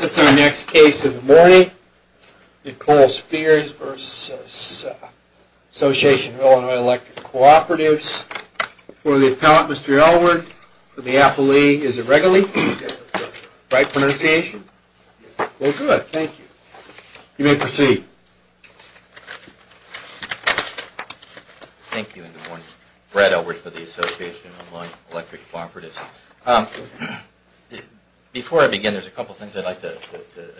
This is our next case of the morning, Nicole Spears v. Association of Illinois Electric Cooperatives. For the appellant, Mr. Elwood, for the appellee, is it Regalee? Is that the right pronunciation? Well, good. Thank you. You may proceed. Thank you and good morning. Brad Elwood for the Association of Illinois Electric Cooperatives. Before I begin, there's a couple of things I'd like to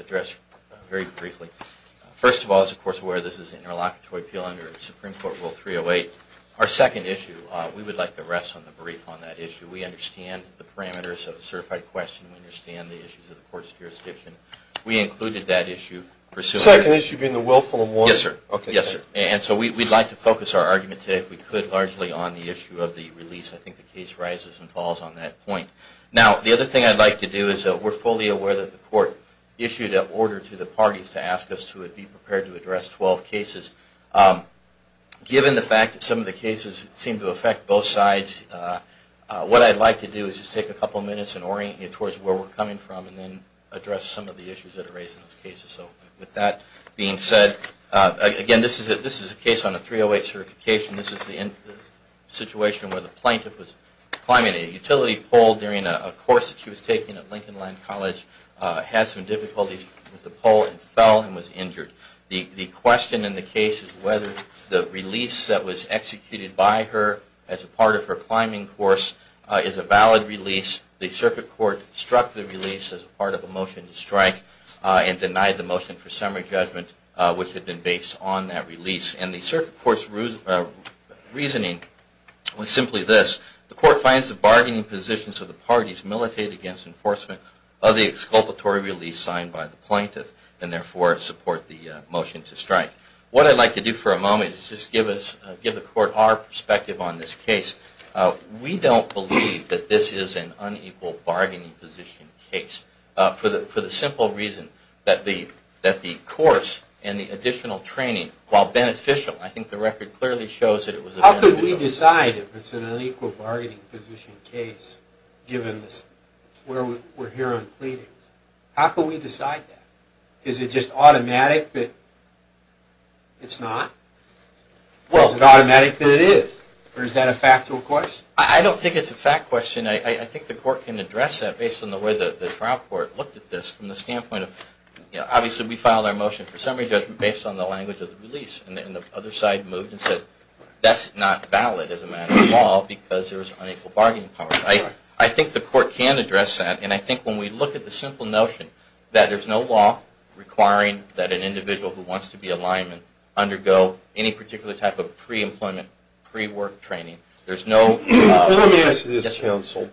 address very briefly. First of all, as the Court is aware, this is an interlocutory appeal under Supreme Court Rule 308. Our second issue, we would like to rest on the brief on that issue. We understand the parameters of a certified question. We understand the issues of the court's jurisdiction. We included that issue. The second issue being the willful and warranted? Yes, sir. And so we'd like to focus our argument today, if we could, largely on the issue of the release. I think the case rises and falls on that point. Now, the other thing I'd like to do is that we're fully aware that the Court issued an order to the parties to ask us to be prepared to address 12 cases. Given the fact that some of the cases seem to affect both sides, what I'd like to do is just take a couple of minutes and orient you towards where we're coming from and then address some of the issues that are raised in those cases. So with that being said, again, this is a case on a 308 certification. This is the situation where the plaintiff was climbing a utility pole during a course that she was taking at Lincoln Line College, had some difficulties with the pole, and fell and was injured. The question in the case is whether the release that was executed by her as a part of her climbing course is a valid release. The Circuit Court struck the release as part of a motion to strike and denied the motion for summary judgment, which had been based on that release. And the Circuit Court's reasoning was simply this. The Court finds the bargaining positions of the parties militated against enforcement of the exculpatory release signed by the plaintiff and therefore support the motion to strike. What I'd like to do for a moment is just give the Court our perspective on this case. We don't believe that this is an unequal bargaining position case for the simple reason that the course and the additional training, while beneficial, I think the record clearly shows that it was beneficial. How could we decide if it's an unequal bargaining position case given where we're here on pleadings? How could we decide that? Is it just automatic that it's not? Is it automatic that it is? Or is that a factual question? I don't think it's a fact question. I think the Court can address that based on the way the trial court looked at this from the standpoint of obviously we filed our motion for summary judgment based on the language of the release. And the other side moved and said that's not valid as a matter of law because there was unequal bargaining power. I think the Court can address that. And I think when we look at the simple notion that there's no law requiring that an individual who wants to be a lineman undergo any particular type of pre-employment, pre-work training, there's no... Let me ask you this, counsel.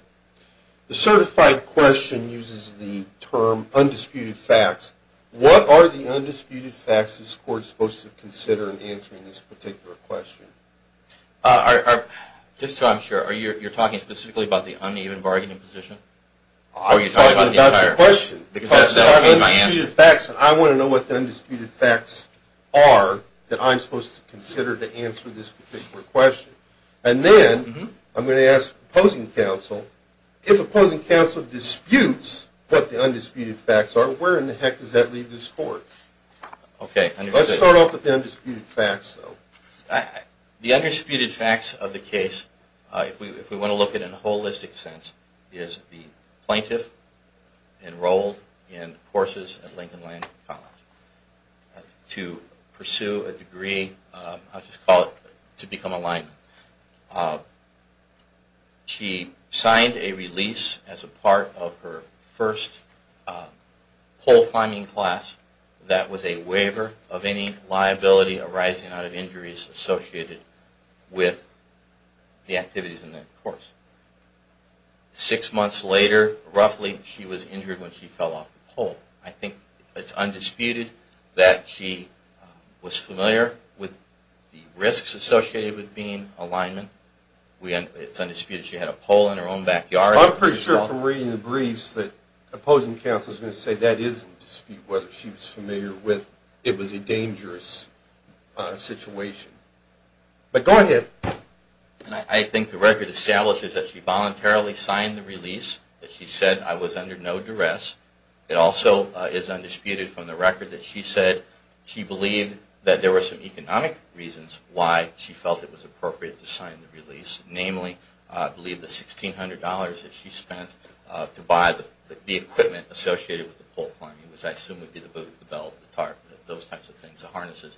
The certified question uses the term undisputed facts. What are the undisputed facts this Court is supposed to consider in answering this particular question? Just so I'm sure, you're talking specifically about the uneven bargaining position? I'm talking about the question. Because that's the undisputed facts. I want to know what the undisputed facts are that I'm supposed to consider to answer this particular question. And then I'm going to ask opposing counsel, if opposing counsel disputes what the undisputed facts are, where in the heck does that leave this Court? Let's start off with the undisputed facts, though. The undisputed facts of the case, if we want to look at it in a holistic sense, is the plaintiff enrolled in courses at Lincoln Land College to pursue a degree, I'll just call it, to become a lineman. She signed a release as a part of her first pole climbing class that was a waiver of any liability arising out of injuries associated with the activities in that course. Six months later, roughly, she was injured when she fell off the pole. I think it's undisputed that she was familiar with the risks associated with being a lineman. It's undisputed she had a pole in her own backyard. I'm pretty sure from reading the briefs that opposing counsel is going to say that is in dispute, whether she was familiar with it was a dangerous situation. But go ahead. I think the record establishes that she voluntarily signed the release. She said, I was under no duress. It also is undisputed from the record that she said she believed that there were some economic reasons why she felt it was appropriate to sign the release. Namely, I believe the $1,600 that she spent to buy the equipment associated with the pole climbing, which I assume would be the boat, the belt, the tarp, those types of things, the harnesses.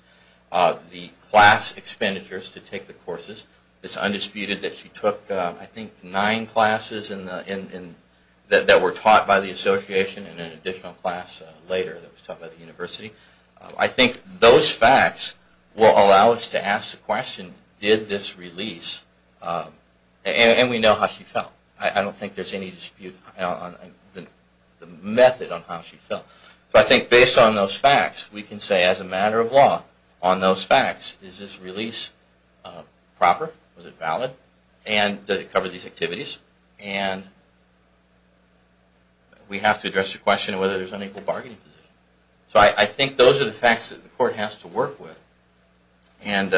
The class expenditures to take the courses, it's undisputed that she took, I think, nine classes that were taught by the association and an additional class later that was taught by the university. I think those facts will allow us to ask the question, did this release, and we know how she felt. I don't think there's any dispute on the method on how she felt. I think based on those facts, we can say as a matter of law, on those facts, is this release proper? Was it valid? And did it cover these activities? And we have to address the question of whether there's an equal bargaining position. So I think those are the facts that the court has to work with and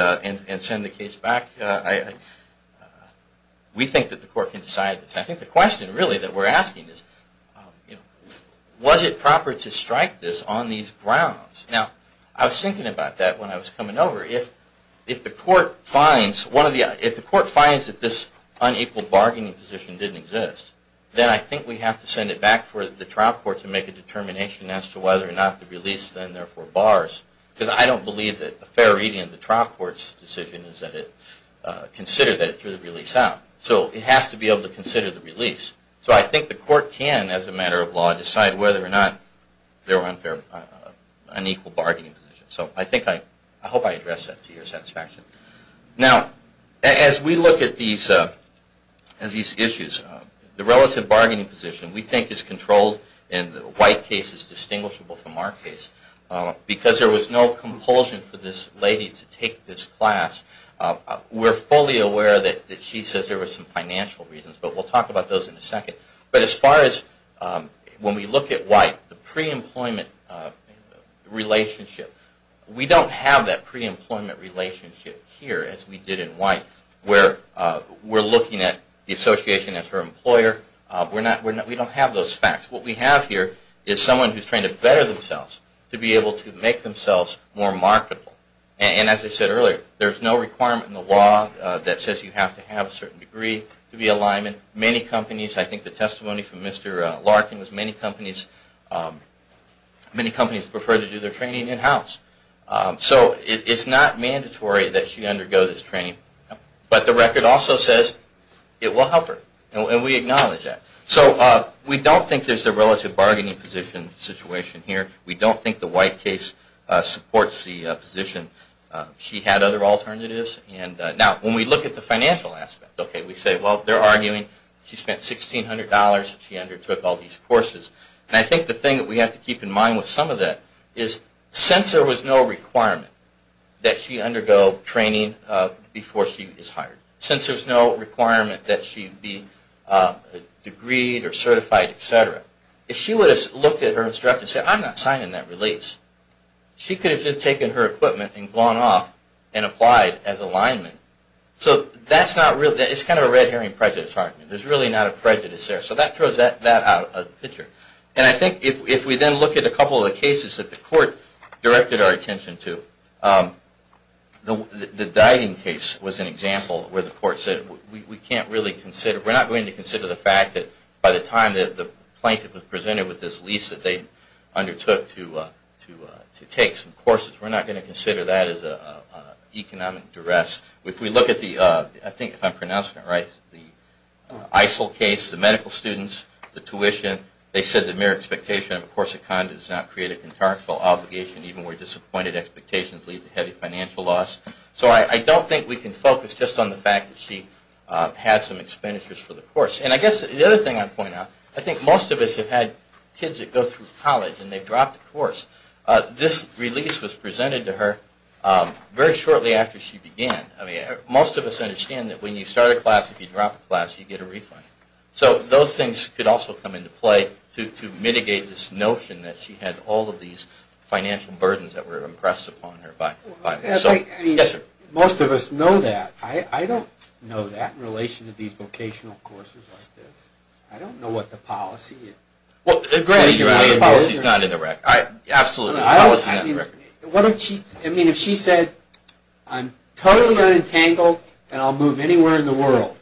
send the case back. We think that the court can decide this. I think the question, really, that we're asking is, was it proper to strike this on these grounds? Now, I was thinking about that when I was coming over. If the court finds that this unequal bargaining position didn't exist, then I think we have to send it back for the trial court to make a determination as to whether or not the release, then, therefore, bars. Because I don't believe that a fair reading of the trial court's decision is that it considered that it threw the release out. So it has to be able to consider the release. So I think the court can, as a matter of law, decide whether or not there was an equal bargaining position. So I hope I addressed that to your satisfaction. Now, as we look at these issues, the relative bargaining position we think is controlled, and the White case is distinguishable from our case. Because there was no compulsion for this lady to take this class, we're fully aware that she says there were some financial reasons. But we'll talk about those in a second. But as far as when we look at White, the pre-employment relationship, we don't have that pre-employment relationship here, as we did in White, where we're looking at the association as her employer. We don't have those facts. What we have here is someone who's trained to better themselves, to be able to make themselves more marketable. And as I said earlier, there's no requirement in the law that says you have to have a certain degree to be a lineman. Many companies, I think the testimony from Mr. Larkin was many companies prefer to do their training in-house. So it's not mandatory that she undergo this training. But the record also says it will help her, and we acknowledge that. So we don't think there's a relative bargaining position situation here. We don't think the White case supports the position. She had other alternatives. Now, when we look at the financial aspect, we say, well, they're arguing she spent $1,600 and she undertook all these courses. And I think the thing that we have to keep in mind with some of that is since there was no requirement that she undergo training before she is hired, since there's no requirement that she be degreed or certified, et cetera, if she would have looked at her instructor and said, I'm not signing that release, she could have just taken her equipment and gone off and applied as a lineman. So that's not real. It's kind of a red herring prejudice argument. There's really not a prejudice there. So that throws that out of the picture. And I think if we then look at a couple of the cases that the court directed our attention to, the Diding case was an example where the court said, we can't really consider, we're not going to consider the fact that by the time that the plaintiff was presented with this lease that they undertook to take some courses, we're not going to consider that as an economic duress. If we look at the, I think if I'm pronouncing it right, the ISIL case, the medical students, the tuition, they said the mere expectation of a course of conduct does not create a contractual obligation, even where disappointed expectations lead to heavy financial loss. So I don't think we can focus just on the fact that she had some expenditures for the course. And I guess the other thing I'd point out, I think most of us have had kids that go through college and they've dropped a course. This release was presented to her very shortly after she began. I mean, most of us understand that when you start a class, if you drop a class, you get a refund. So those things could also come into play to mitigate this notion that she had all of these financial burdens that were impressed upon her by herself. Most of us know that. I don't know that in relation to these vocational courses like this. I don't know what the policy is. Well, the policy is not in the record. Absolutely, the policy is not in the record. I mean, if she said, I'm totally unentangled and I'll move anywhere in the world,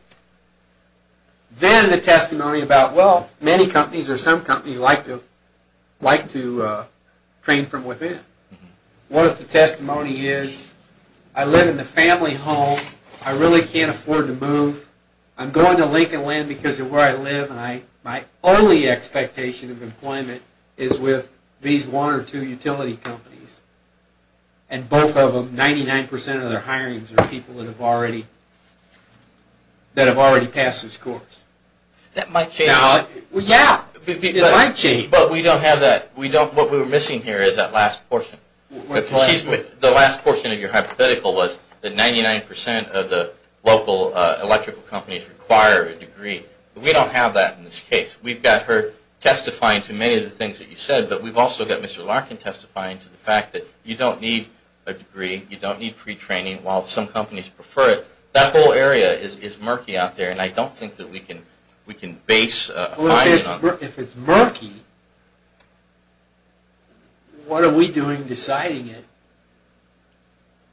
then the testimony about, well, many companies or some companies like to train from within. What if the testimony is, I live in the family home. I really can't afford to move. I'm going to Lincoln Land because of where I live, and my only expectation of employment is with these one or two utility companies. And both of them, 99% of their hirings are people that have already passed this course. That might change. Yeah, it might change. But we don't have that. What we were missing here is that last portion. The last portion of your hypothetical was that 99% of the local electrical companies require a degree. We don't have that in this case. We've got her testifying to many of the things that you said, but we've also got Mr. Larkin testifying to the fact that you don't need a degree. You don't need free training, while some companies prefer it. That whole area is murky out there, and I don't think that we can base a finding on that. If it's murky, what are we doing deciding it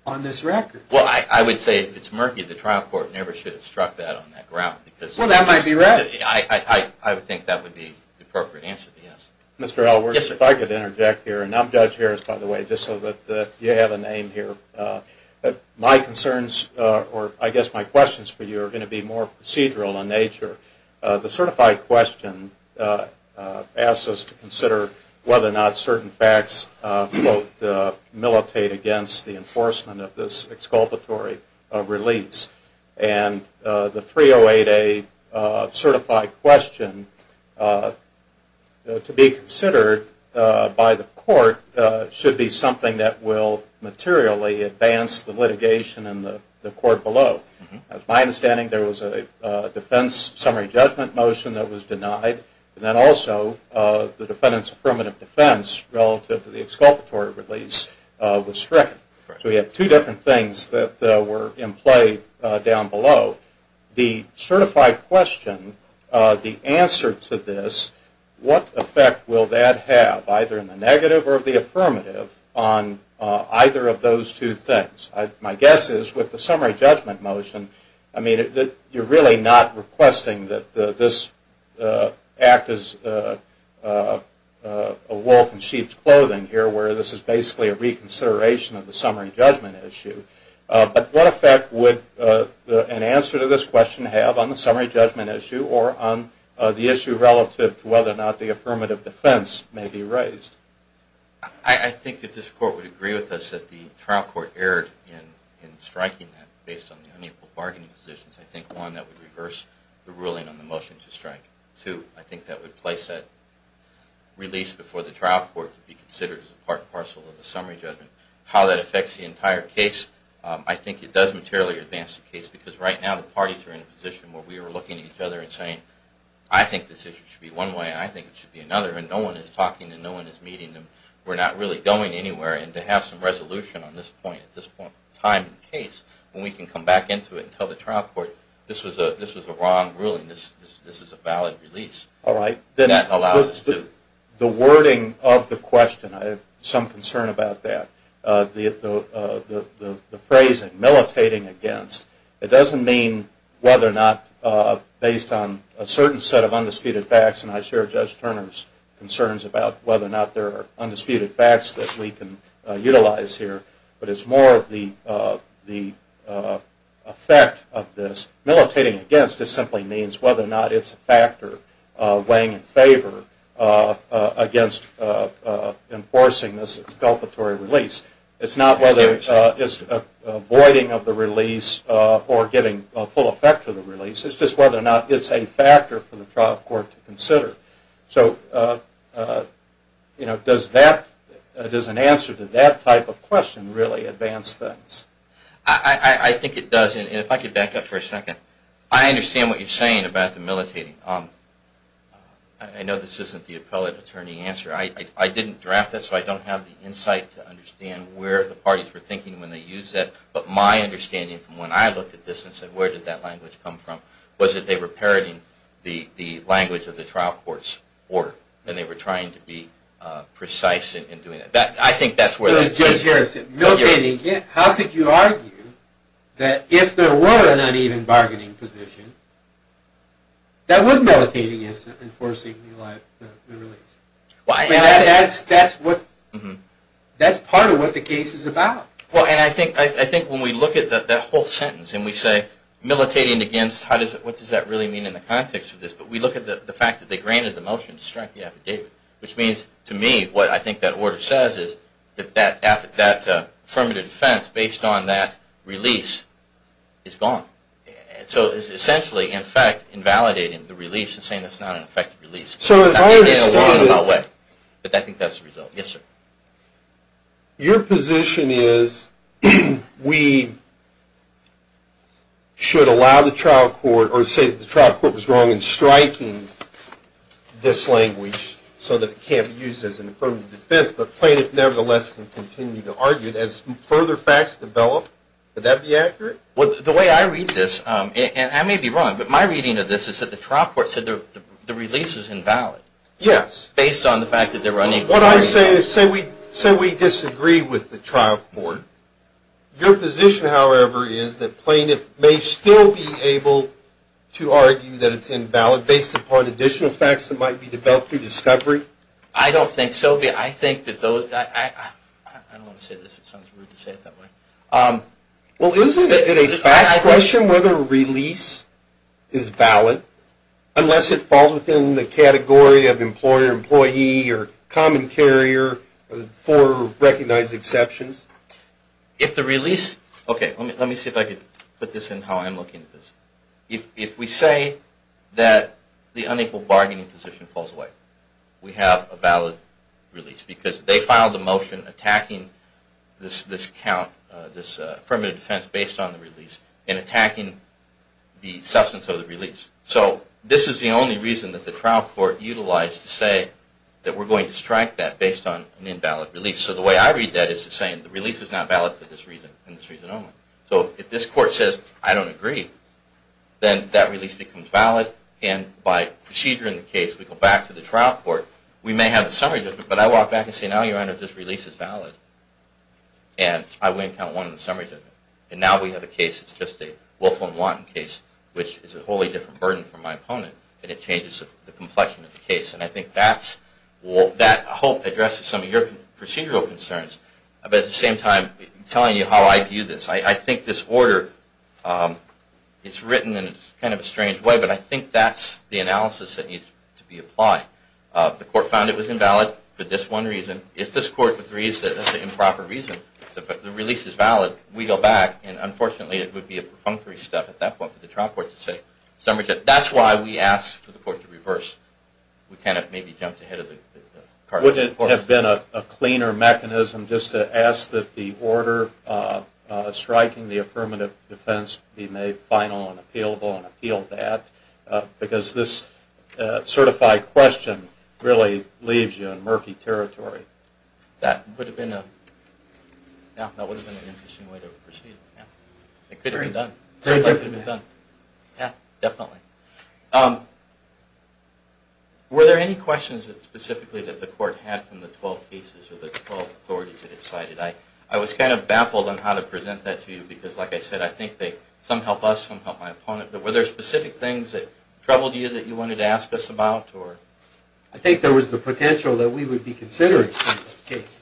on this record? Well, I would say if it's murky, the trial court never should have struck that on that ground. Well, that might be right. I would think that would be the appropriate answer to yes. Mr. Edwards, if I could interject here, and I'm Judge Harris, by the way, just so that you have a name here. My concerns, or I guess my questions for you, are going to be more procedural in nature. The certified question asks us to consider whether or not certain facts, quote, militate against the enforcement of this exculpatory release. And the 308A certified question, to be considered by the court, should be something that will materially advance the litigation in the court below. As my understanding, there was a defense summary judgment motion that was denied, and then also the defendant's affirmative defense relative to the exculpatory release was stricken. So we have two different things that were in play down below. The certified question, the answer to this, what effect will that have, either in the negative or the affirmative, on either of those two things? My guess is, with the summary judgment motion, I mean, you're really not requesting that this act is a wolf in sheep's clothing here, where this is basically a reconsideration of the summary judgment issue. But what effect would an answer to this question have on the summary judgment issue, or on the issue relative to whether or not the affirmative defense may be raised? I think that this court would agree with us that the trial court erred in striking that, based on the unequal bargaining positions. I think, one, that would reverse the ruling on the motion to strike. Two, I think that would place that release before the trial court to be considered as a part and parcel of the summary judgment. How that affects the entire case, I think it does materially advance the case, because right now the parties are in a position where we are looking at each other and saying, I think this issue should be one way and I think it should be another, and no one is talking and no one is meeting and we're not really going anywhere, and to have some resolution on this point at this point in time in the case, when we can come back into it and tell the trial court, this was a wrong ruling, this is a valid release. All right. That allows us to... The wording of the question, I have some concern about that. The phrasing, militating against, it doesn't mean whether or not, based on a certain set of undisputed facts, and I share Judge Turner's concerns about whether or not there are undisputed facts that we can utilize here, but it's more of the effect of this. Militating against simply means whether or not it's a factor weighing in favor against enforcing this exculpatory release. It's not whether it's avoiding of the release or giving full effect to the release, it's just whether or not it's a factor for the trial court to consider. Does an answer to that type of question really advance things? I think it does, and if I could back up for a second. I understand what you're saying about the militating. I know this isn't the appellate attorney answer. I didn't draft this, so I don't have the insight to understand where the parties were thinking when they used that, but my understanding from when I looked at this and said, where did that language come from, was that they were parroting the language of the trial court's order, and they were trying to be precise in doing that. I think that's where the issue is. How could you argue that if there were an uneven bargaining position, that would militate against enforcing the release? That's part of what the case is about. I think when we look at that whole sentence and we say, militating against, what does that really mean in the context of this, but we look at the fact that they granted the motion to strike the affidavit, which means to me what I think that order says is that affirmative defense based on that release is gone. It's essentially, in fact, invalidating the release and saying it's not an effective release. I think that's the result. Yes, sir. Your position is we should allow the trial court, or say the trial court was wrong in striking this language so that it can't be used as an affirmative defense, but plaintiff nevertheless can continue to argue it. As further facts develop, would that be accurate? The way I read this, and I may be wrong, but my reading of this is that the trial court said the release is invalid. Yes. Based on the fact that they're running for release. What I'm saying is say we disagree with the trial court. Your position, however, is that plaintiff may still be able to argue that it's invalid based upon additional facts that might be developed through discovery. I don't think so. I think that those – I don't want to say this. It sounds rude to say it that way. Well, isn't it a fact question whether a release is valid unless it falls within the category of employer, employee, or common carrier for recognized exceptions? If the release – okay, let me see if I can put this in how I'm looking at this. If we say that the unequal bargaining position falls away, we have a valid release because they filed a motion attacking this count, this affirmative defense based on the release, and attacking the substance of the release. So this is the only reason that the trial court utilized to say that we're going to strike that based on an invalid release. So the way I read that is to say the release is not valid for this reason and this reason only. So if this court says I don't agree, then that release becomes valid, and by procedure in the case, we go back to the trial court. We may have a summary judgment, but I walk back and say, now your honor, this release is valid. And I win count one in the summary judgment. And now we have a case that's just a Wolfham-Wanton case, which is a wholly different burden from my opponent, and it changes the complexion of the case. And I think that hope addresses some of your procedural concerns, but at the same time telling you how I view this. I think this order, it's written in kind of a strange way, but I think that's the analysis that needs to be applied. The court found it was invalid for this one reason. If this court agrees that that's an improper reason, the release is valid, we go back, and unfortunately it would be a perfunctory step at that point for the trial court to say summary judgment. That's why we ask for the court to reverse. We can't have maybe jumped ahead of the court. Would it have been a cleaner mechanism just to ask that the order striking the affirmative defense be made final and appealable and appeal that? Because this certified question really leaves you in murky territory. That would have been an interesting way to proceed. It could have been done. Yeah, definitely. Were there any questions specifically that the court had from the 12 cases or the 12 authorities that it cited? I was kind of baffled on how to present that to you because, like I said, I think some help us, some help my opponent. But were there specific things that troubled you that you wanted to ask us about? I think there was the potential that we would be considering some cases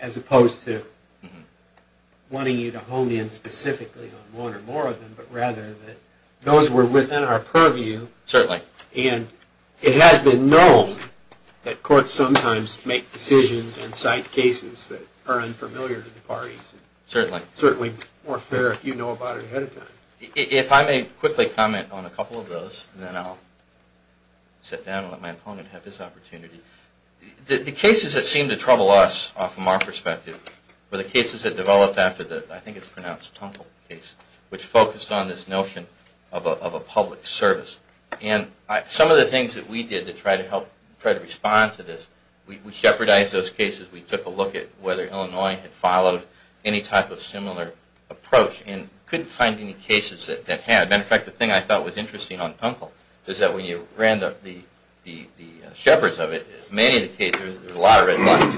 as opposed to wanting you to hone in specifically on one or more of them, but rather that those were within our purview. Certainly. And it has been known that courts sometimes make decisions and cite cases that are unfamiliar to the parties. Certainly. Certainly more fair if you know about it ahead of time. If I may quickly comment on a couple of those, and then I'll sit down and let my opponent have his opportunity. The cases that seemed to trouble us from our perspective were the cases that developed after the, I think it's pronounced Tumple case, which focused on this notion of a public service. And some of the things that we did to try to help, try to respond to this, we jeopardized those cases. We took a look at whether Illinois had followed any type of similar approach and couldn't find any cases that had. As a matter of fact, the thing I thought was interesting on Tumple is that when you ran the shepherds of it, many of the cases, there was a lot of red lights.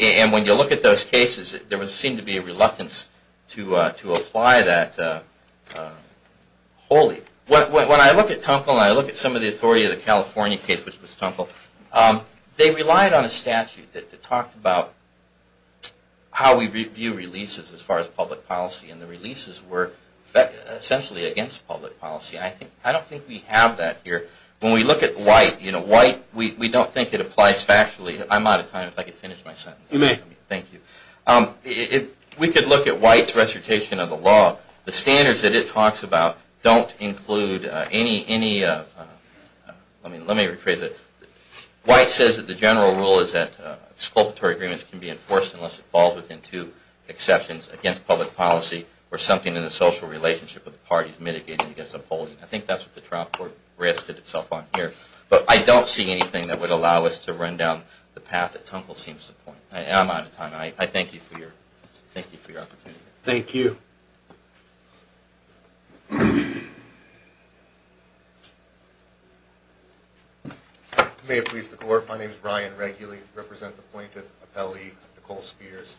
And when you look at those cases, there seemed to be a reluctance to apply that wholly. When I look at Tumple and I look at some of the authority of the California case, which was Tumple, they relied on a statute that talked about how we view releases as far as public policy. And the releases were essentially against public policy. I don't think we have that here. When we look at White, we don't think it applies factually. I'm out of time. If I could finish my sentence. You may. Thank you. If we could look at White's recitation of the law, the standards that it talks about don't include any... Let me rephrase it. White says that the general rule is that exculpatory agreements can be enforced unless it falls within two exceptions, against public policy or something in the social relationship of the parties mitigating against upholding. I think that's what the trial court rested itself on here. But I don't see anything that would allow us to run down the path that Tumple seems to point. I'm out of time. I thank you for your opportunity. Thank you. May it please the Court. My name is Ryan Reguli. I represent the plaintiff appellee, Nicole Spears.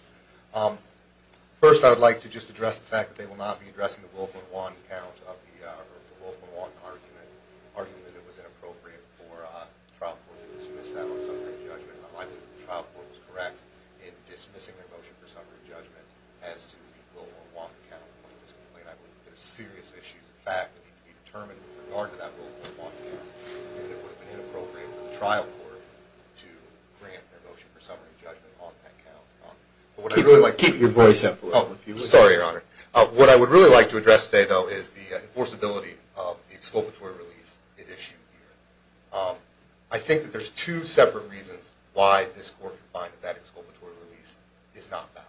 First, I would like to just address the fact that they will not be addressing the Wolfman-Watt account of the Wolfman-Watt argument, arguing that it was inappropriate for the trial court to dismiss that on summary judgment. I believe that the trial court was correct in dismissing their motion for summary judgment as to the Wolfman-Watt account of the plaintiff's complaint. I believe that there are serious issues of fact that need to be determined with regard to that Wolfman-Watt account, and that it would have been inappropriate for the trial court to grant their motion for summary judgment on that account. Keep your voice up a little bit. Sorry, Your Honor. What I would really like to address today, though, is the enforceability of the exculpatory release it issued here. I think that there's two separate reasons why this Court could find that exculpatory release is not valid.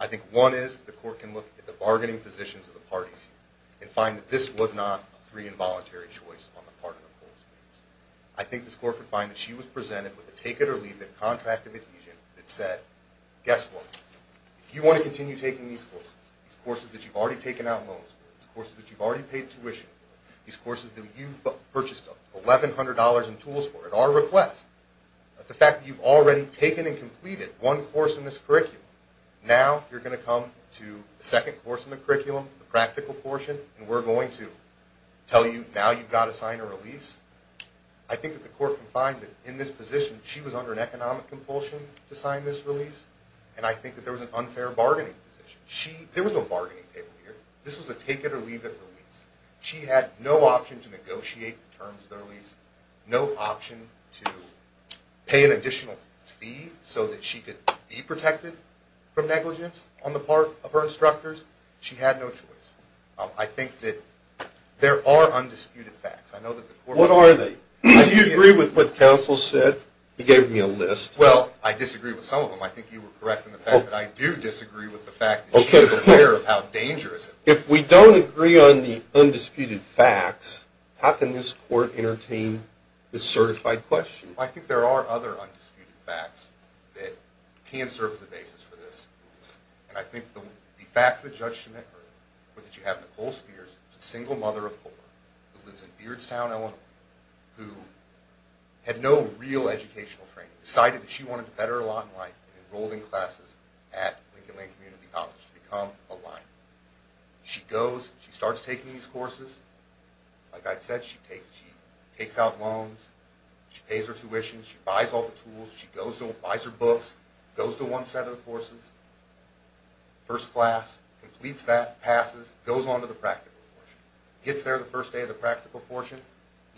I think one is the Court can look at the bargaining positions of the parties here and find that this was not a free and voluntary choice on the part of Nicole Spears. I think this Court could find that she was presented with a take-it-or-leave-it contract of adhesion that said, guess what? If you want to continue taking these courses, these courses that you've already taken out loans for, these courses that you've already paid tuition for, these courses that you've purchased $1,100 in tools for at our request, the fact that you've already taken and completed one course in this curriculum, now you're going to come to the second course in the curriculum, the practical portion, and we're going to tell you now you've got to sign a release. I think that the Court can find that in this position, she was under an economic compulsion to sign this release, and I think that there was an unfair bargaining position. There was no bargaining table here. This was a take-it-or-leave-it release. She had no option to negotiate the terms of the release, no option to pay an additional fee so that she could be protected from negligence on the part of her instructors. She had no choice. I think that there are undisputed facts. What are they? Do you agree with what counsel said? He gave me a list. Well, I disagree with some of them. I think you were correct in the fact that I do disagree with the fact that she was aware of how dangerous it was. If we don't agree on the undisputed facts, how can this Court entertain this certified question? Well, I think there are other undisputed facts that can serve as a basis for this, and I think the facts that Judge Schmidt heard were that you have Nicole Spears, a single mother of four who lives in Beardstown, Illinois, who had no real educational training, decided that she wanted to better her lot in life and enrolled in classes at Lincoln-Land Community College. She's become a Lion. She goes. She starts taking these courses. Like I said, she takes out loans. She pays her tuition. She buys all the tools. She buys her books. Goes to one set of the courses. First class. Completes that. Passes. Goes on to the practical portion. Gets there the first day of the practical portion,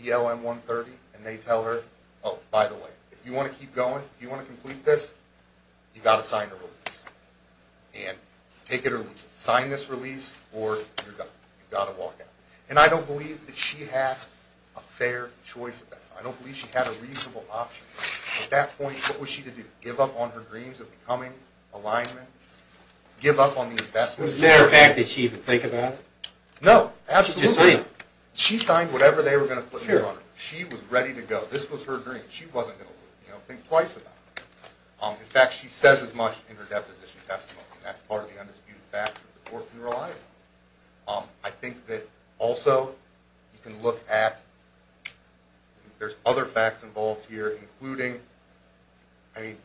ELM 130, and they tell her, oh, by the way, if you want to keep going, if you want to complete this, you've got to sign a release. And take it or leave it. Sign this release or you're done. You've got to walk out. And I don't believe that she had a fair choice of that. I don't believe she had a reasonable option. At that point, what was she to do? Give up on her dreams of becoming a Lion? Give up on the investment? Was there a fact that she would think about? No. Absolutely not. She signed whatever they were going to put on her. She was ready to go. This was her dream. She wasn't going to think twice about it. In fact, she says as much in her deposition testimony. That's part of the undisputed facts that the court can rely on. I think that also you can look at there's other facts involved here, including, I mean,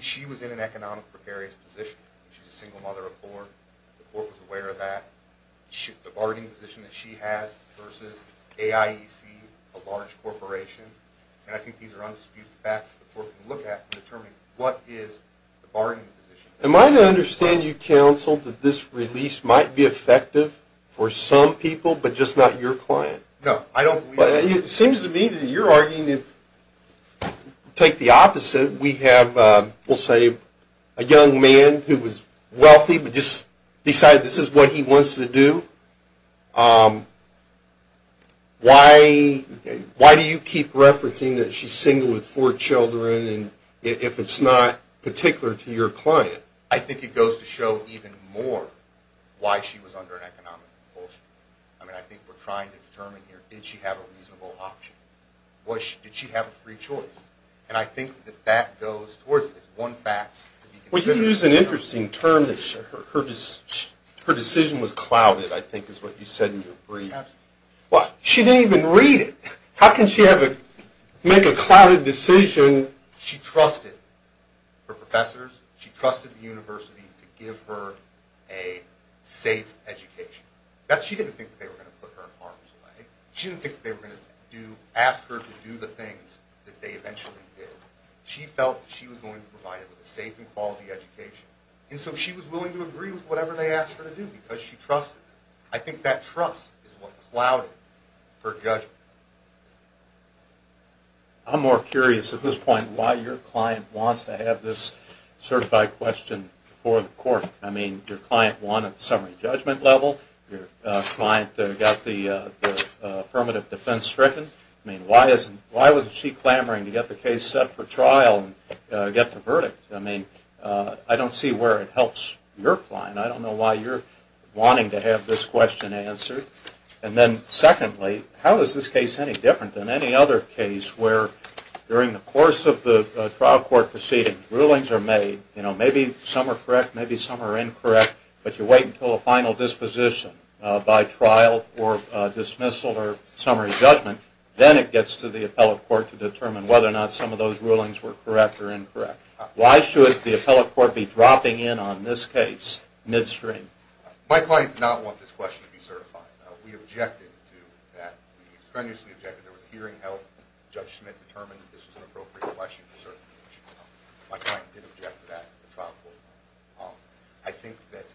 she was in an economic precarious position. She's a single mother of four. The court was aware of that. The bargaining position that she has versus AIEC, a large corporation. And I think these are undisputed facts that the court can look at in determining what is the bargaining position. Am I to understand you, counsel, that this release might be effective for some people but just not your client? No. I don't believe that. It seems to me that you're arguing if you take the opposite, we have, we'll say, a young man who was wealthy but just decided this is what he wants to do. Why do you keep referencing that she's single with four children if it's not particular to your client? I think it goes to show even more why she was under an economic compulsion. I mean, I think we're trying to determine here, did she have a reasonable option? Did she have a free choice? And I think that that goes towards it. It's one fact. Well, you use an interesting term that her decision was clouded, I think. That I think is what you said in your brief. Absolutely. What? She didn't even read it. How can she make a clouded decision? She trusted her professors. She trusted the university to give her a safe education. She didn't think they were going to put her in harm's way. She didn't think they were going to ask her to do the things that they eventually did. She felt she was going to provide a safe and quality education. And so she was willing to agree with whatever they asked her to do because she trusted them. I think that trust is what clouded her judgment. I'm more curious at this point why your client wants to have this certified question before the court. I mean, your client won at the summary judgment level. Your client got the affirmative defense stricken. I mean, why was she clamoring to get the case set for trial and get the verdict? I mean, I don't see where it helps your client. I don't know why you're wanting to have this question answered. And then secondly, how is this case any different than any other case where during the course of the trial court proceeding, rulings are made, you know, maybe some are correct, maybe some are incorrect, but you wait until a final disposition by trial or dismissal or summary judgment. Then it gets to the appellate court to determine whether or not some of those rulings were correct or incorrect. Why should the appellate court be dropping in on this case midstream? My client did not want this question to be certified. We objected to that. We strenuously objected. There was a hearing held. Judge Schmidt determined that this was an appropriate question to certify. My client did object to that at the trial court level. I think that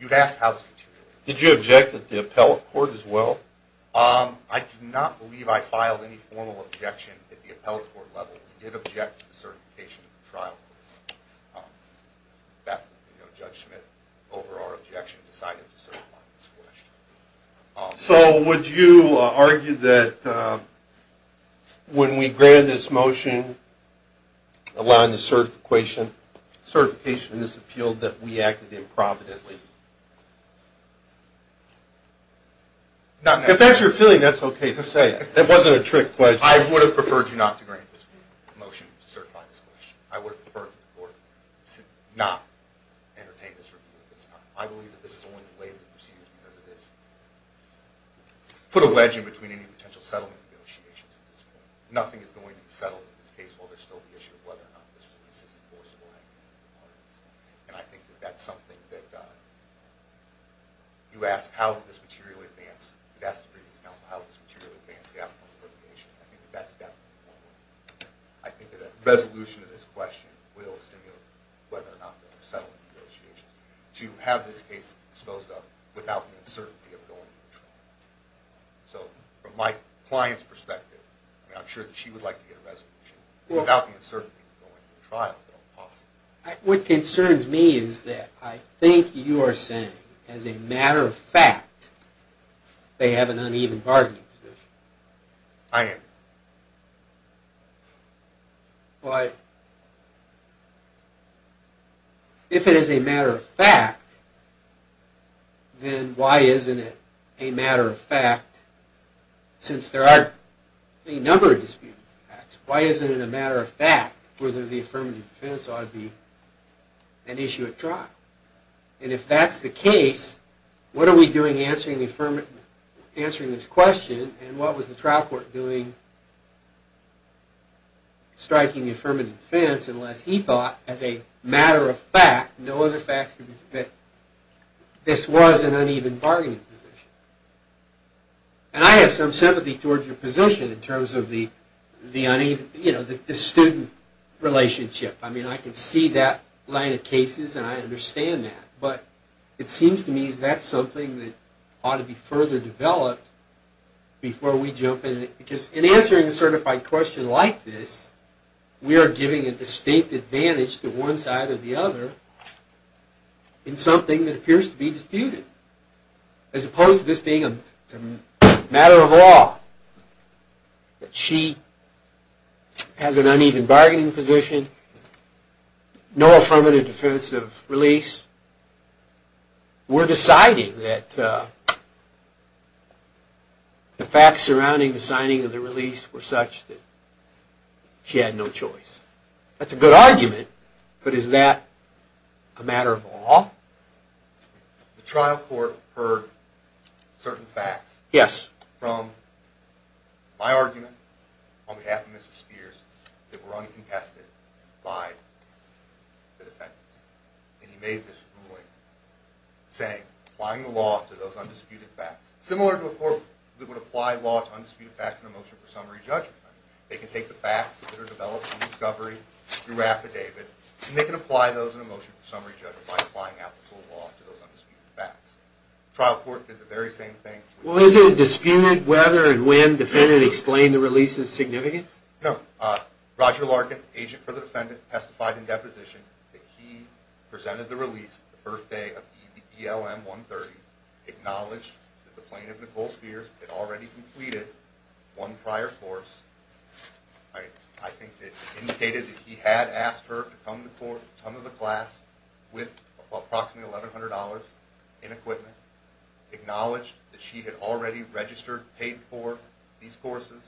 you've asked how this continued. Did you object at the appellate court as well? I do not believe I filed any formal objection at the appellate court level. We did object to the certification at the trial court level. Judge Schmidt, over our objection, decided to certify this question. So would you argue that when we granted this motion, allowing the certification of this appeal, that we acted improvidently? If that's your feeling, that's okay to say. That wasn't a trick question. I would have preferred you not to grant this motion to certify this question. I would have preferred for the court to not entertain this review at this time. I believe that this is only related to procedures because it has put a wedge in between any potential settlement negotiations at this point. Nothing is going to be settled in this case while there's still the issue of whether or not this release is enforceable. And I think that that's something that you asked how did this materially advance. That's the previous counsel. How did this materially advance the appellate court application? I think that's definitely one way. I think that a resolution to this question will stimulate whether or not there are settlement negotiations to have this case disposed of without the uncertainty of going to trial. So from my client's perspective, I'm sure that she would like to get a resolution without the uncertainty of going to trial. What concerns me is that I think you are saying, as a matter of fact, they have an uneven bargaining position. I am. If it is a matter of fact, then why isn't it a matter of fact, since there are a number of disputed facts, why isn't it a matter of fact whether the affirmative defense ought to be an issue at trial? And if that's the case, what are we doing answering this question, and what was the trial court doing striking the affirmative defense unless he thought, as a matter of fact, no other facts could be that this was an uneven bargaining position. And I have some sympathy towards your position in terms of the student relationship. I mean, I can see that line of cases, and I understand that. But it seems to me that that's something that ought to be further developed before we jump in. Because in answering a certified question like this, we are giving a distinct advantage to one side or the other in something that appears to be disputed. As opposed to this being a matter of law, that she has an uneven bargaining position, no affirmative defensive release. We are deciding that the facts surrounding the signing of the release were such that she had no choice. That's a good argument, but is that a matter of law? The trial court heard certain facts from my argument on behalf of Mrs. Spears that were uncontested by the defendants. And he made this ruling saying, applying the law to those undisputed facts, similar to a court that would apply law to undisputed facts in a motion for summary judgment. They can take the facts that are developed from discovery through affidavit, and they can apply those in a motion for summary judgment by applying applicable law to those undisputed facts. The trial court did the very same thing. Well, isn't it disputed whether and when the defendant explained the release's significance? No. Roger Larkin, agent for the defendant, testified in deposition that he presented the release the first day of EBLM 130, acknowledged that the plaintiff, Nicole Spears, had already completed one prior course. I think it indicated that he had asked her to come to the class with approximately $1,100 in equipment, acknowledged that she had already registered, paid for these courses,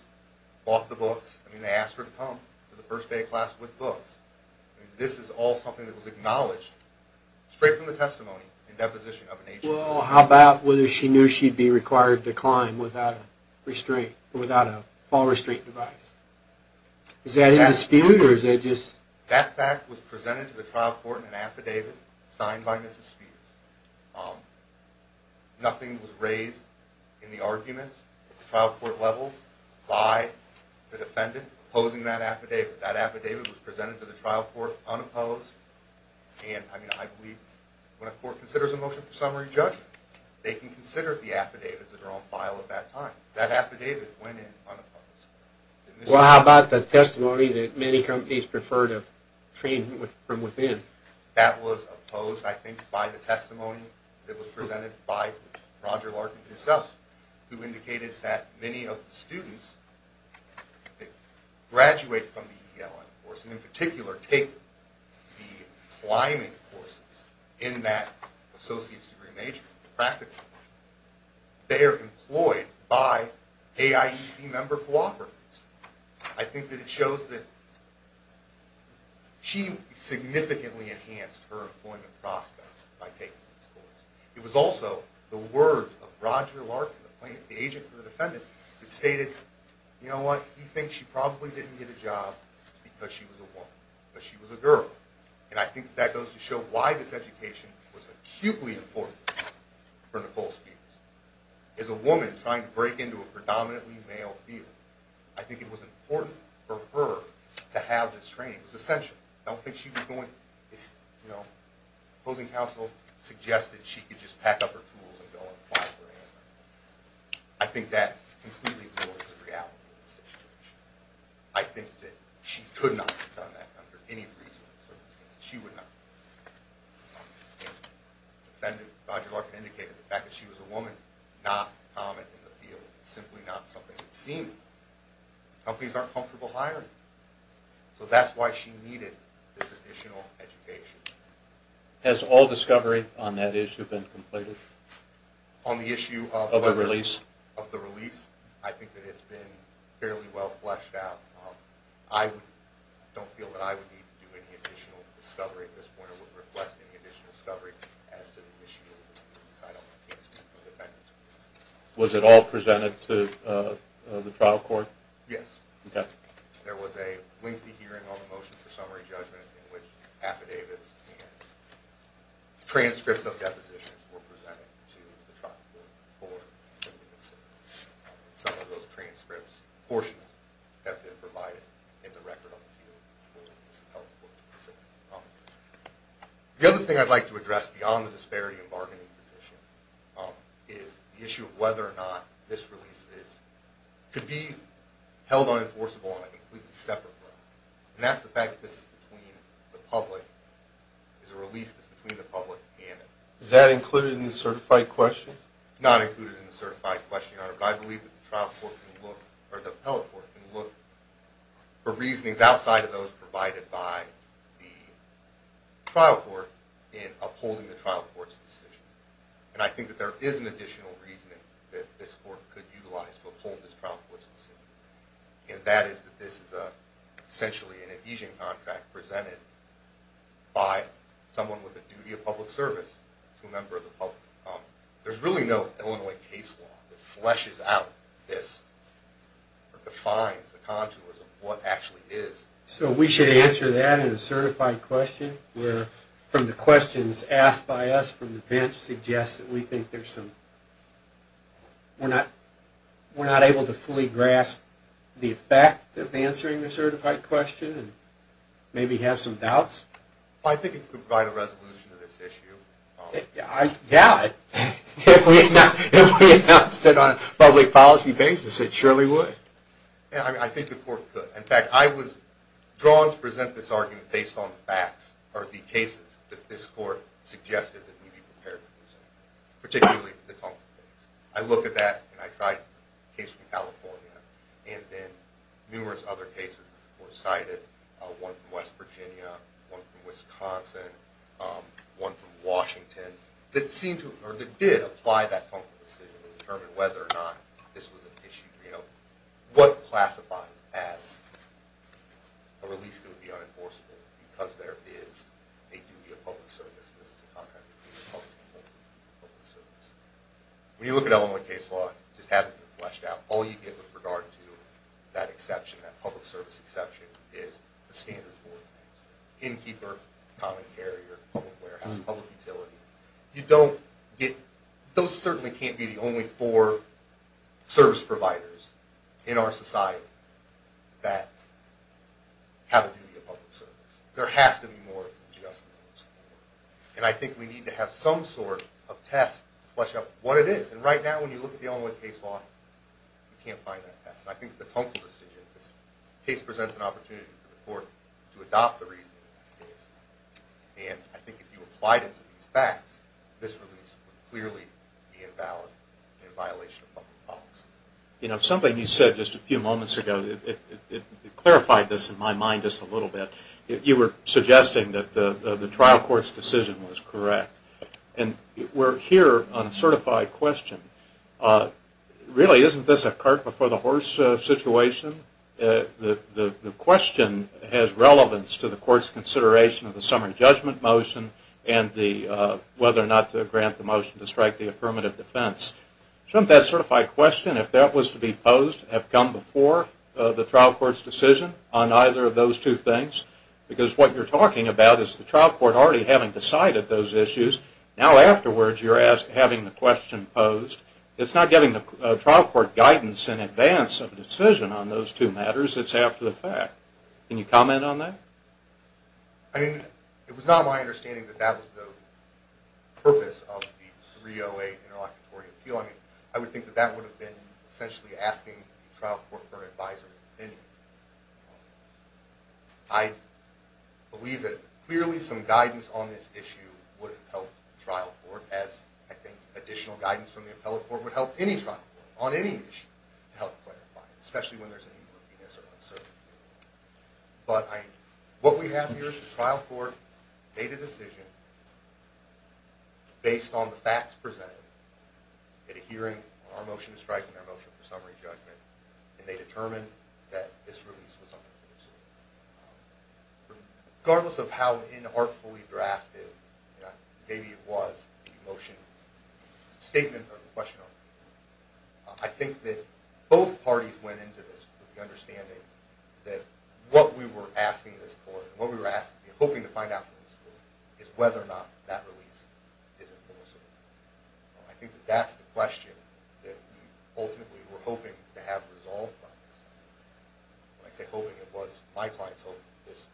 bought the books. I mean, they asked her to come to the first day of class with books. This is all something that was acknowledged straight from the testimony in deposition of an agent. Well, how about whether she knew she'd be required to climb without a fall restraint device? Is that disputed, or is it just... That fact was presented to the trial court in an affidavit signed by Mrs. Spears. Nothing was raised in the arguments at the trial court level by the defendant opposing that affidavit. That affidavit was presented to the trial court unopposed, and I believe when a court considers a motion for summary judgment, they can consider the affidavits that are on file at that time. That affidavit went in unopposed. Well, how about the testimony that many companies prefer to train from within? That was opposed, I think, by the testimony that was presented by Roger Larkin himself, who indicated that many of the students that graduate from the ELM course, and in particular take the climbing courses in that associate's degree major practically, they are employed by AIEC member cooperatives. I think that it shows that she significantly enhanced her employment prospects by taking this course. It was also the words of Roger Larkin, the agent for the defendant, that stated, you know what, he thinks she probably didn't get a job because she was a woman, because she was a girl. And I think that goes to show why this education was acutely important for Nicole Spears. As a woman trying to break into a predominantly male field, I think it was important for her to have this training. It was essential. I don't think she was going, you know, opposing counsel suggested she could just pack up her tools and go apply for AIMS. I think that completely ignored the reality of the situation. I think that she could not have done that under any reasonable circumstances. She would not. The defendant, Roger Larkin, indicated the fact that she was a woman, not common in the field, simply not something that's seen. Companies aren't comfortable hiring. So that's why she needed this additional education. Has all discovery on that issue been completed? On the issue of the release? Of the release. I think that it's been fairly well fleshed out. I don't feel that I would need to do any additional discovery at this point. I wouldn't request any additional discovery as to the issue inside of my case with the defendant. Was it all presented to the trial court? Yes. Okay. There was a lengthy hearing on the motion for summary judgment in which affidavits and transcripts of depositions were presented to the trial court for reconsideration. Some of those transcripts, portions, have been provided in the record on the field. The other thing I'd like to address beyond the disparity in bargaining position is the issue of whether or not this release could be held unenforceable on a completely separate ground. And that's the fact that this is between the public. It's a release that's between the public and the public. Is that included in the certified question? It's not included in the certified question, Your Honor, but I believe that the appellate court can look for reasonings outside of those provided by the trial court in upholding the trial court's decision. And I think that there is an additional reasoning that this court could utilize to uphold this trial court's decision. And that is that this is essentially an adhesion contract presented by someone with a duty of public service to a member of the public. There's really no Illinois case law that fleshes out this or defines the contours of what actually is. So we should answer that in a certified question where from the questions asked by us from the bench suggests that we think there's some, we're not able to fully grasp the effect of answering the certified question and maybe have some doubts? I think it could provide a resolution to this issue. Yeah, if we announced it on a public policy basis, it surely would. Yeah, I think the court could. In fact, I was drawn to present this argument based on facts or the cases that this court suggested that we be prepared to present, particularly the Tunker case. I look at that, and I tried a case from California and then numerous other cases that the court cited, one from West Virginia, one from Wisconsin, one from Washington, that did apply that Tunker decision to determine whether or not this was an issue. What classifies as, or at least it would be unenforceable, because there is a duty of public service. This is a contract of duty of public service. When you look at Illinois case law, it just hasn't been fleshed out. All you get with regard to that exception, that public service exception, is the standard four things. Innkeeper, common carrier, public warehouse, public utility. Those certainly can't be the only four service providers in our society that have a duty of public service. There has to be more than just those four. And I think we need to have some sort of test to flesh out what it is. And right now, when you look at the Illinois case law, you can't find that test. I think the Tunker decision, this case presents an opportunity for the court to adopt the reasoning of the case. And I think if you applied it to these facts, this release would clearly be invalid and a violation of public policy. You know, something you said just a few moments ago, it clarified this in my mind just a little bit. You were suggesting that the trial court's decision was correct. We're here on a certified question. Really, isn't this a cart before the horse situation? The question has relevance to the court's consideration of the summary judgment motion and whether or not to grant the motion to strike the affirmative defense. Shouldn't that certified question, if that was to be posed, have come before the trial court's decision on either of those two things? Because what you're talking about is the trial court already having decided those issues. Now, afterwards, you're having the question posed. It's not getting the trial court guidance in advance of a decision on those two matters. It's after the fact. Can you comment on that? I mean, it was not my understanding that that was the purpose of the 308 Interlocutory Appeal. I mean, I would think that that would have been essentially asking the trial court for an advisory opinion. I believe that clearly some guidance on this issue would have helped the trial court, as I think additional guidance from the appellate court would help any trial court on any issue to help clarify it, especially when there's any workiness or uncertainty. But what we have here is the trial court made a decision based on the facts presented at a hearing on our motion to strike and our motion for summary judgment, and they determined that this release was unproductive. Regardless of how inartfully drafted, maybe it was, the motion statement or the question, I think that both parties went into this with the understanding that what we were asking this court, what we were hoping to find out from this court, is whether or not that release is unproductive. I think that that's the question that we ultimately were hoping to have resolved by this time. When I say hoping, it was my client's hoping that this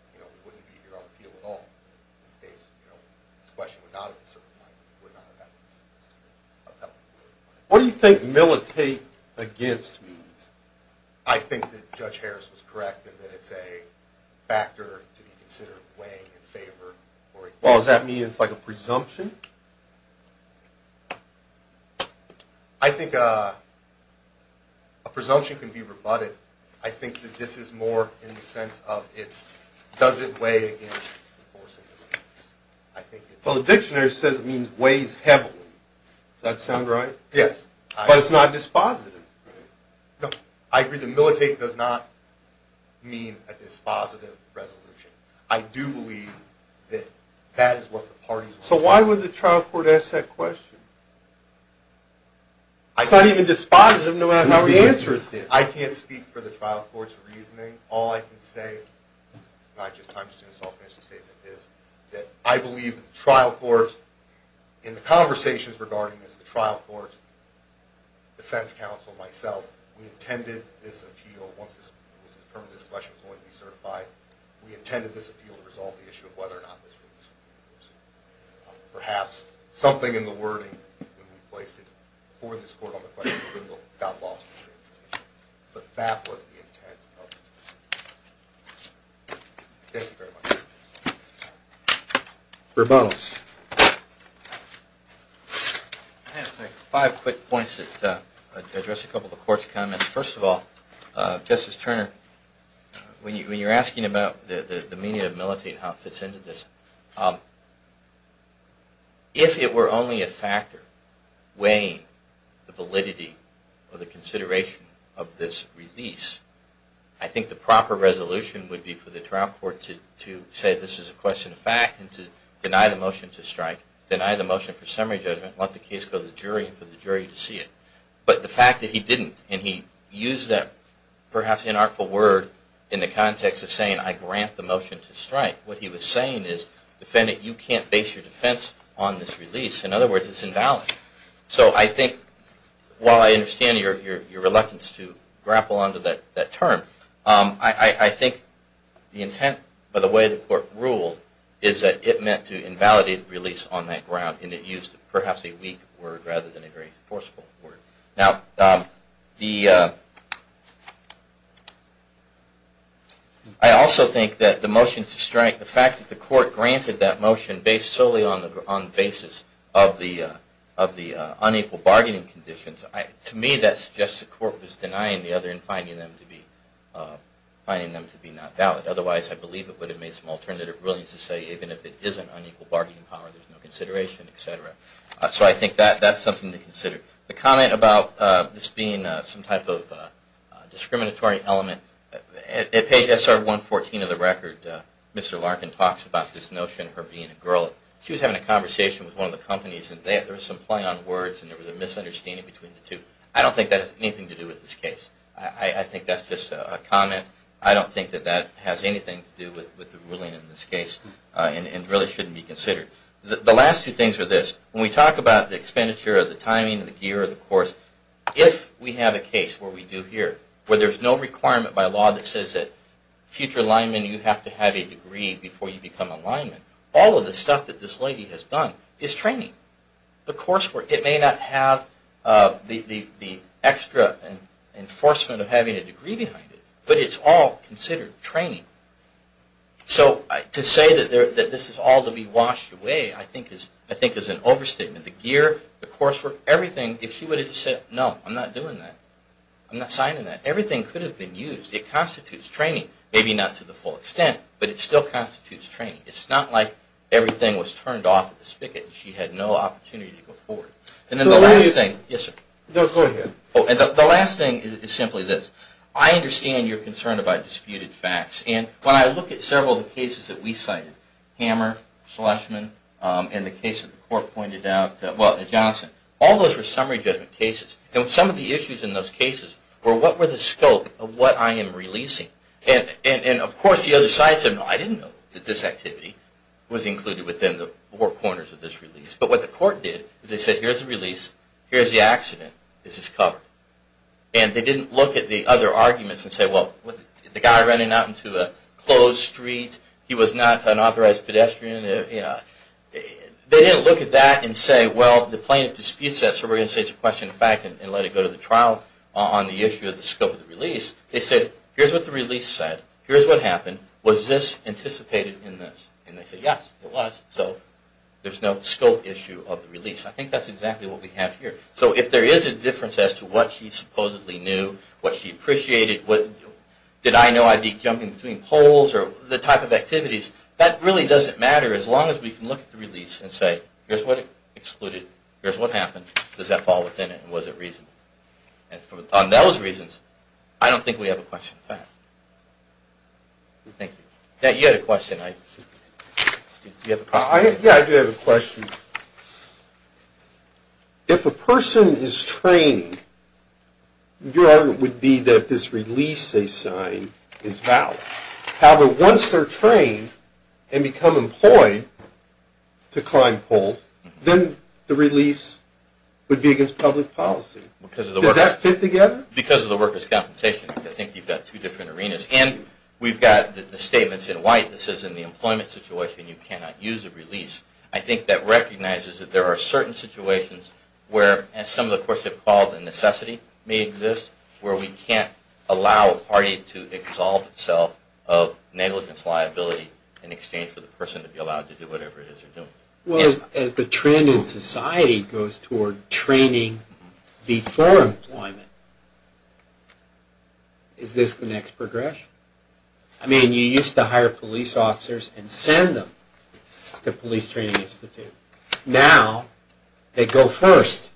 wouldn't be here on appeal at all. In this case, this question would not have been certified, it would not have happened. What do you think militate against means? I think that Judge Harris was correct in that it's a factor to be considered weighing in favor or against. Well, does that mean it's like a presumption? I think a presumption can be rebutted. I think that this is more in the sense of does it weigh in favor or against. Well, the dictionary says it means weighs heavily. Does that sound right? Yes. But it's not dispositive. No, I agree that militate does not mean a dispositive resolution. I do believe that that is what the parties want. So why would the trial court ask that question? It's not even dispositive, no matter how we answer it. I can't speak for the trial court's reasoning. All I can say, and I just understood this offensive statement, is that I believe that the trial court, in the conversations regarding this, the trial court, defense counsel, myself, we intended this appeal, once it was determined this question was going to be certified, we intended this appeal to resolve the issue of whether or not this ruling was going to be used. Perhaps something in the wording, when we placed it before this court on the question, got lost. But that was the intent of the decision. Thank you very much. Rebounds. I have five quick points that address a couple of the court's comments. First of all, Justice Turner, when you're asking about the meaning of militate and how it fits into this, if it were only a factor weighing the validity or the consideration of this release, I think the proper resolution would be for the trial court to say this is a question of fact and to deny the motion to strike, deny the motion for summary judgment, let the case go to the jury, and for the jury to see it. But the fact that he didn't, and he used that perhaps inartful word in the context of saying, I grant the motion to strike. What he was saying is, defendant, you can't base your defense on this release. In other words, it's invalid. So I think, while I understand your reluctance to grapple onto that term, I think the intent of the way the court ruled is that it meant to invalidate the release on that ground, and it used perhaps a weak word rather than a very forceful word. I also think that the motion to strike, the fact that the court granted that motion based solely on the basis of the unequal bargaining conditions, to me that suggests the court was denying the other and finding them to be not valid. Otherwise, I believe it would have made some alternative rulings to say, even if it isn't unequal bargaining power, there's no consideration, et cetera. So I think that's something to consider. The comment about this being some type of discriminatory element, at page SR114 of the record, Mr. Larkin talks about this notion of her being a girl. She was having a conversation with one of the companies, and there was some play on words, and there was a misunderstanding between the two. I don't think that has anything to do with this case. I think that's just a comment. I don't think that that has anything to do with the ruling in this case, and really shouldn't be considered. The last two things are this. When we talk about the expenditure of the timing and the gear of the course, if we have a case where we do here, where there's no requirement by law that says that future linemen, you have to have a degree before you become a lineman, all of the stuff that this lady has done is training. The coursework, it may not have the extra enforcement of having a degree behind it, but it's all considered training. So to say that this is all to be washed away, I think is an overstatement. The gear, the coursework, everything, if she would have said, no, I'm not doing that. I'm not signing that. Everything could have been used. It constitutes training, maybe not to the full extent, but it still constitutes training. It's not like everything was turned off at the spigot. She had no opportunity to go forward. And then the last thing. Yes, sir. No, go ahead. The last thing is simply this. I understand your concern about disputed facts, and when I look at several of the cases that we cited, Hammer, Schlesman, and the case that the court pointed out, well, Johnson, all those were summary judgment cases. And some of the issues in those cases were, what were the scope of what I am releasing? And of course, the other side said, no, I didn't know that this activity was included within the four corners of this release. But what the court did is they said, here's the release. Here's the accident. This is covered. And they didn't look at the other arguments and say, well, the guy ran out into a closed street. He was not an authorized pedestrian. They didn't look at that and say, well, the plaintiff disputes that. So we're going to say it's a question of fact and let it go to the trial on the issue of the scope of the release. They said, here's what the release said. Here's what happened. Was this anticipated in this? And they said, yes, it was. So there's no scope issue of the release. I think that's exactly what we have here. So if there is a difference as to what she supposedly knew, what she appreciated, did I know I'd be jumping between poles, or the type of activities, that really doesn't matter as long as we can look at the release and say, here's what excluded. Here's what happened. Does that fall within it? And was it reasonable? And on those reasons, I don't think we have a question of fact. Thank you. You had a question. Yeah, I do have a question. If a person is trained, your argument would be that this release they sign is valid. However, once they're trained and become employed to climb poles, then the release would be against public policy. Does that fit together? Because of the workers' compensation. I think you've got two different arenas. And we've got the statements in white that says, in the employment situation, you cannot use a release. I think that recognizes that there are certain situations where, as some of the courts have called, a necessity may exist, where we can't allow a party to exalt itself of negligence, liability, in exchange for the person to be allowed to do whatever it is they're doing. As the trend in society goes toward training before employment, is this the next progression? I mean, you used to hire police officers and send them to police training institutes. Now they go first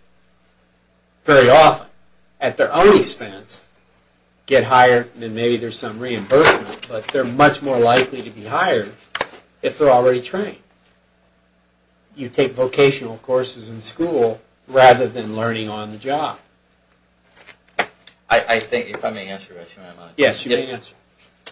very often at their own expense, get hired, and then maybe there's some reimbursement. But they're much more likely to be hired if they're already trained. You take vocational courses in school rather than learning on the job. I think, if I may answer that, if you don't mind. Yes, you may answer.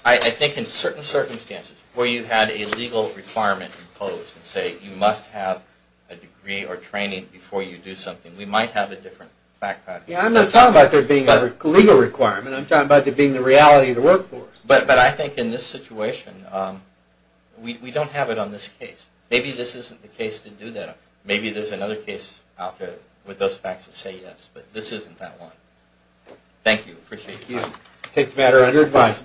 I think in certain circumstances where you had a legal requirement imposed and say you must have a degree or training before you do something, we might have a different fact pattern. I'm not talking about there being a legal requirement. I'm talking about there being the reality of the workforce. But I think in this situation, we don't have it on this case. Maybe this isn't the case to do that. Maybe there's another case out there with those facts that say yes. But this isn't that one. Thank you. Appreciate it. Thank you. Take the matter under advice.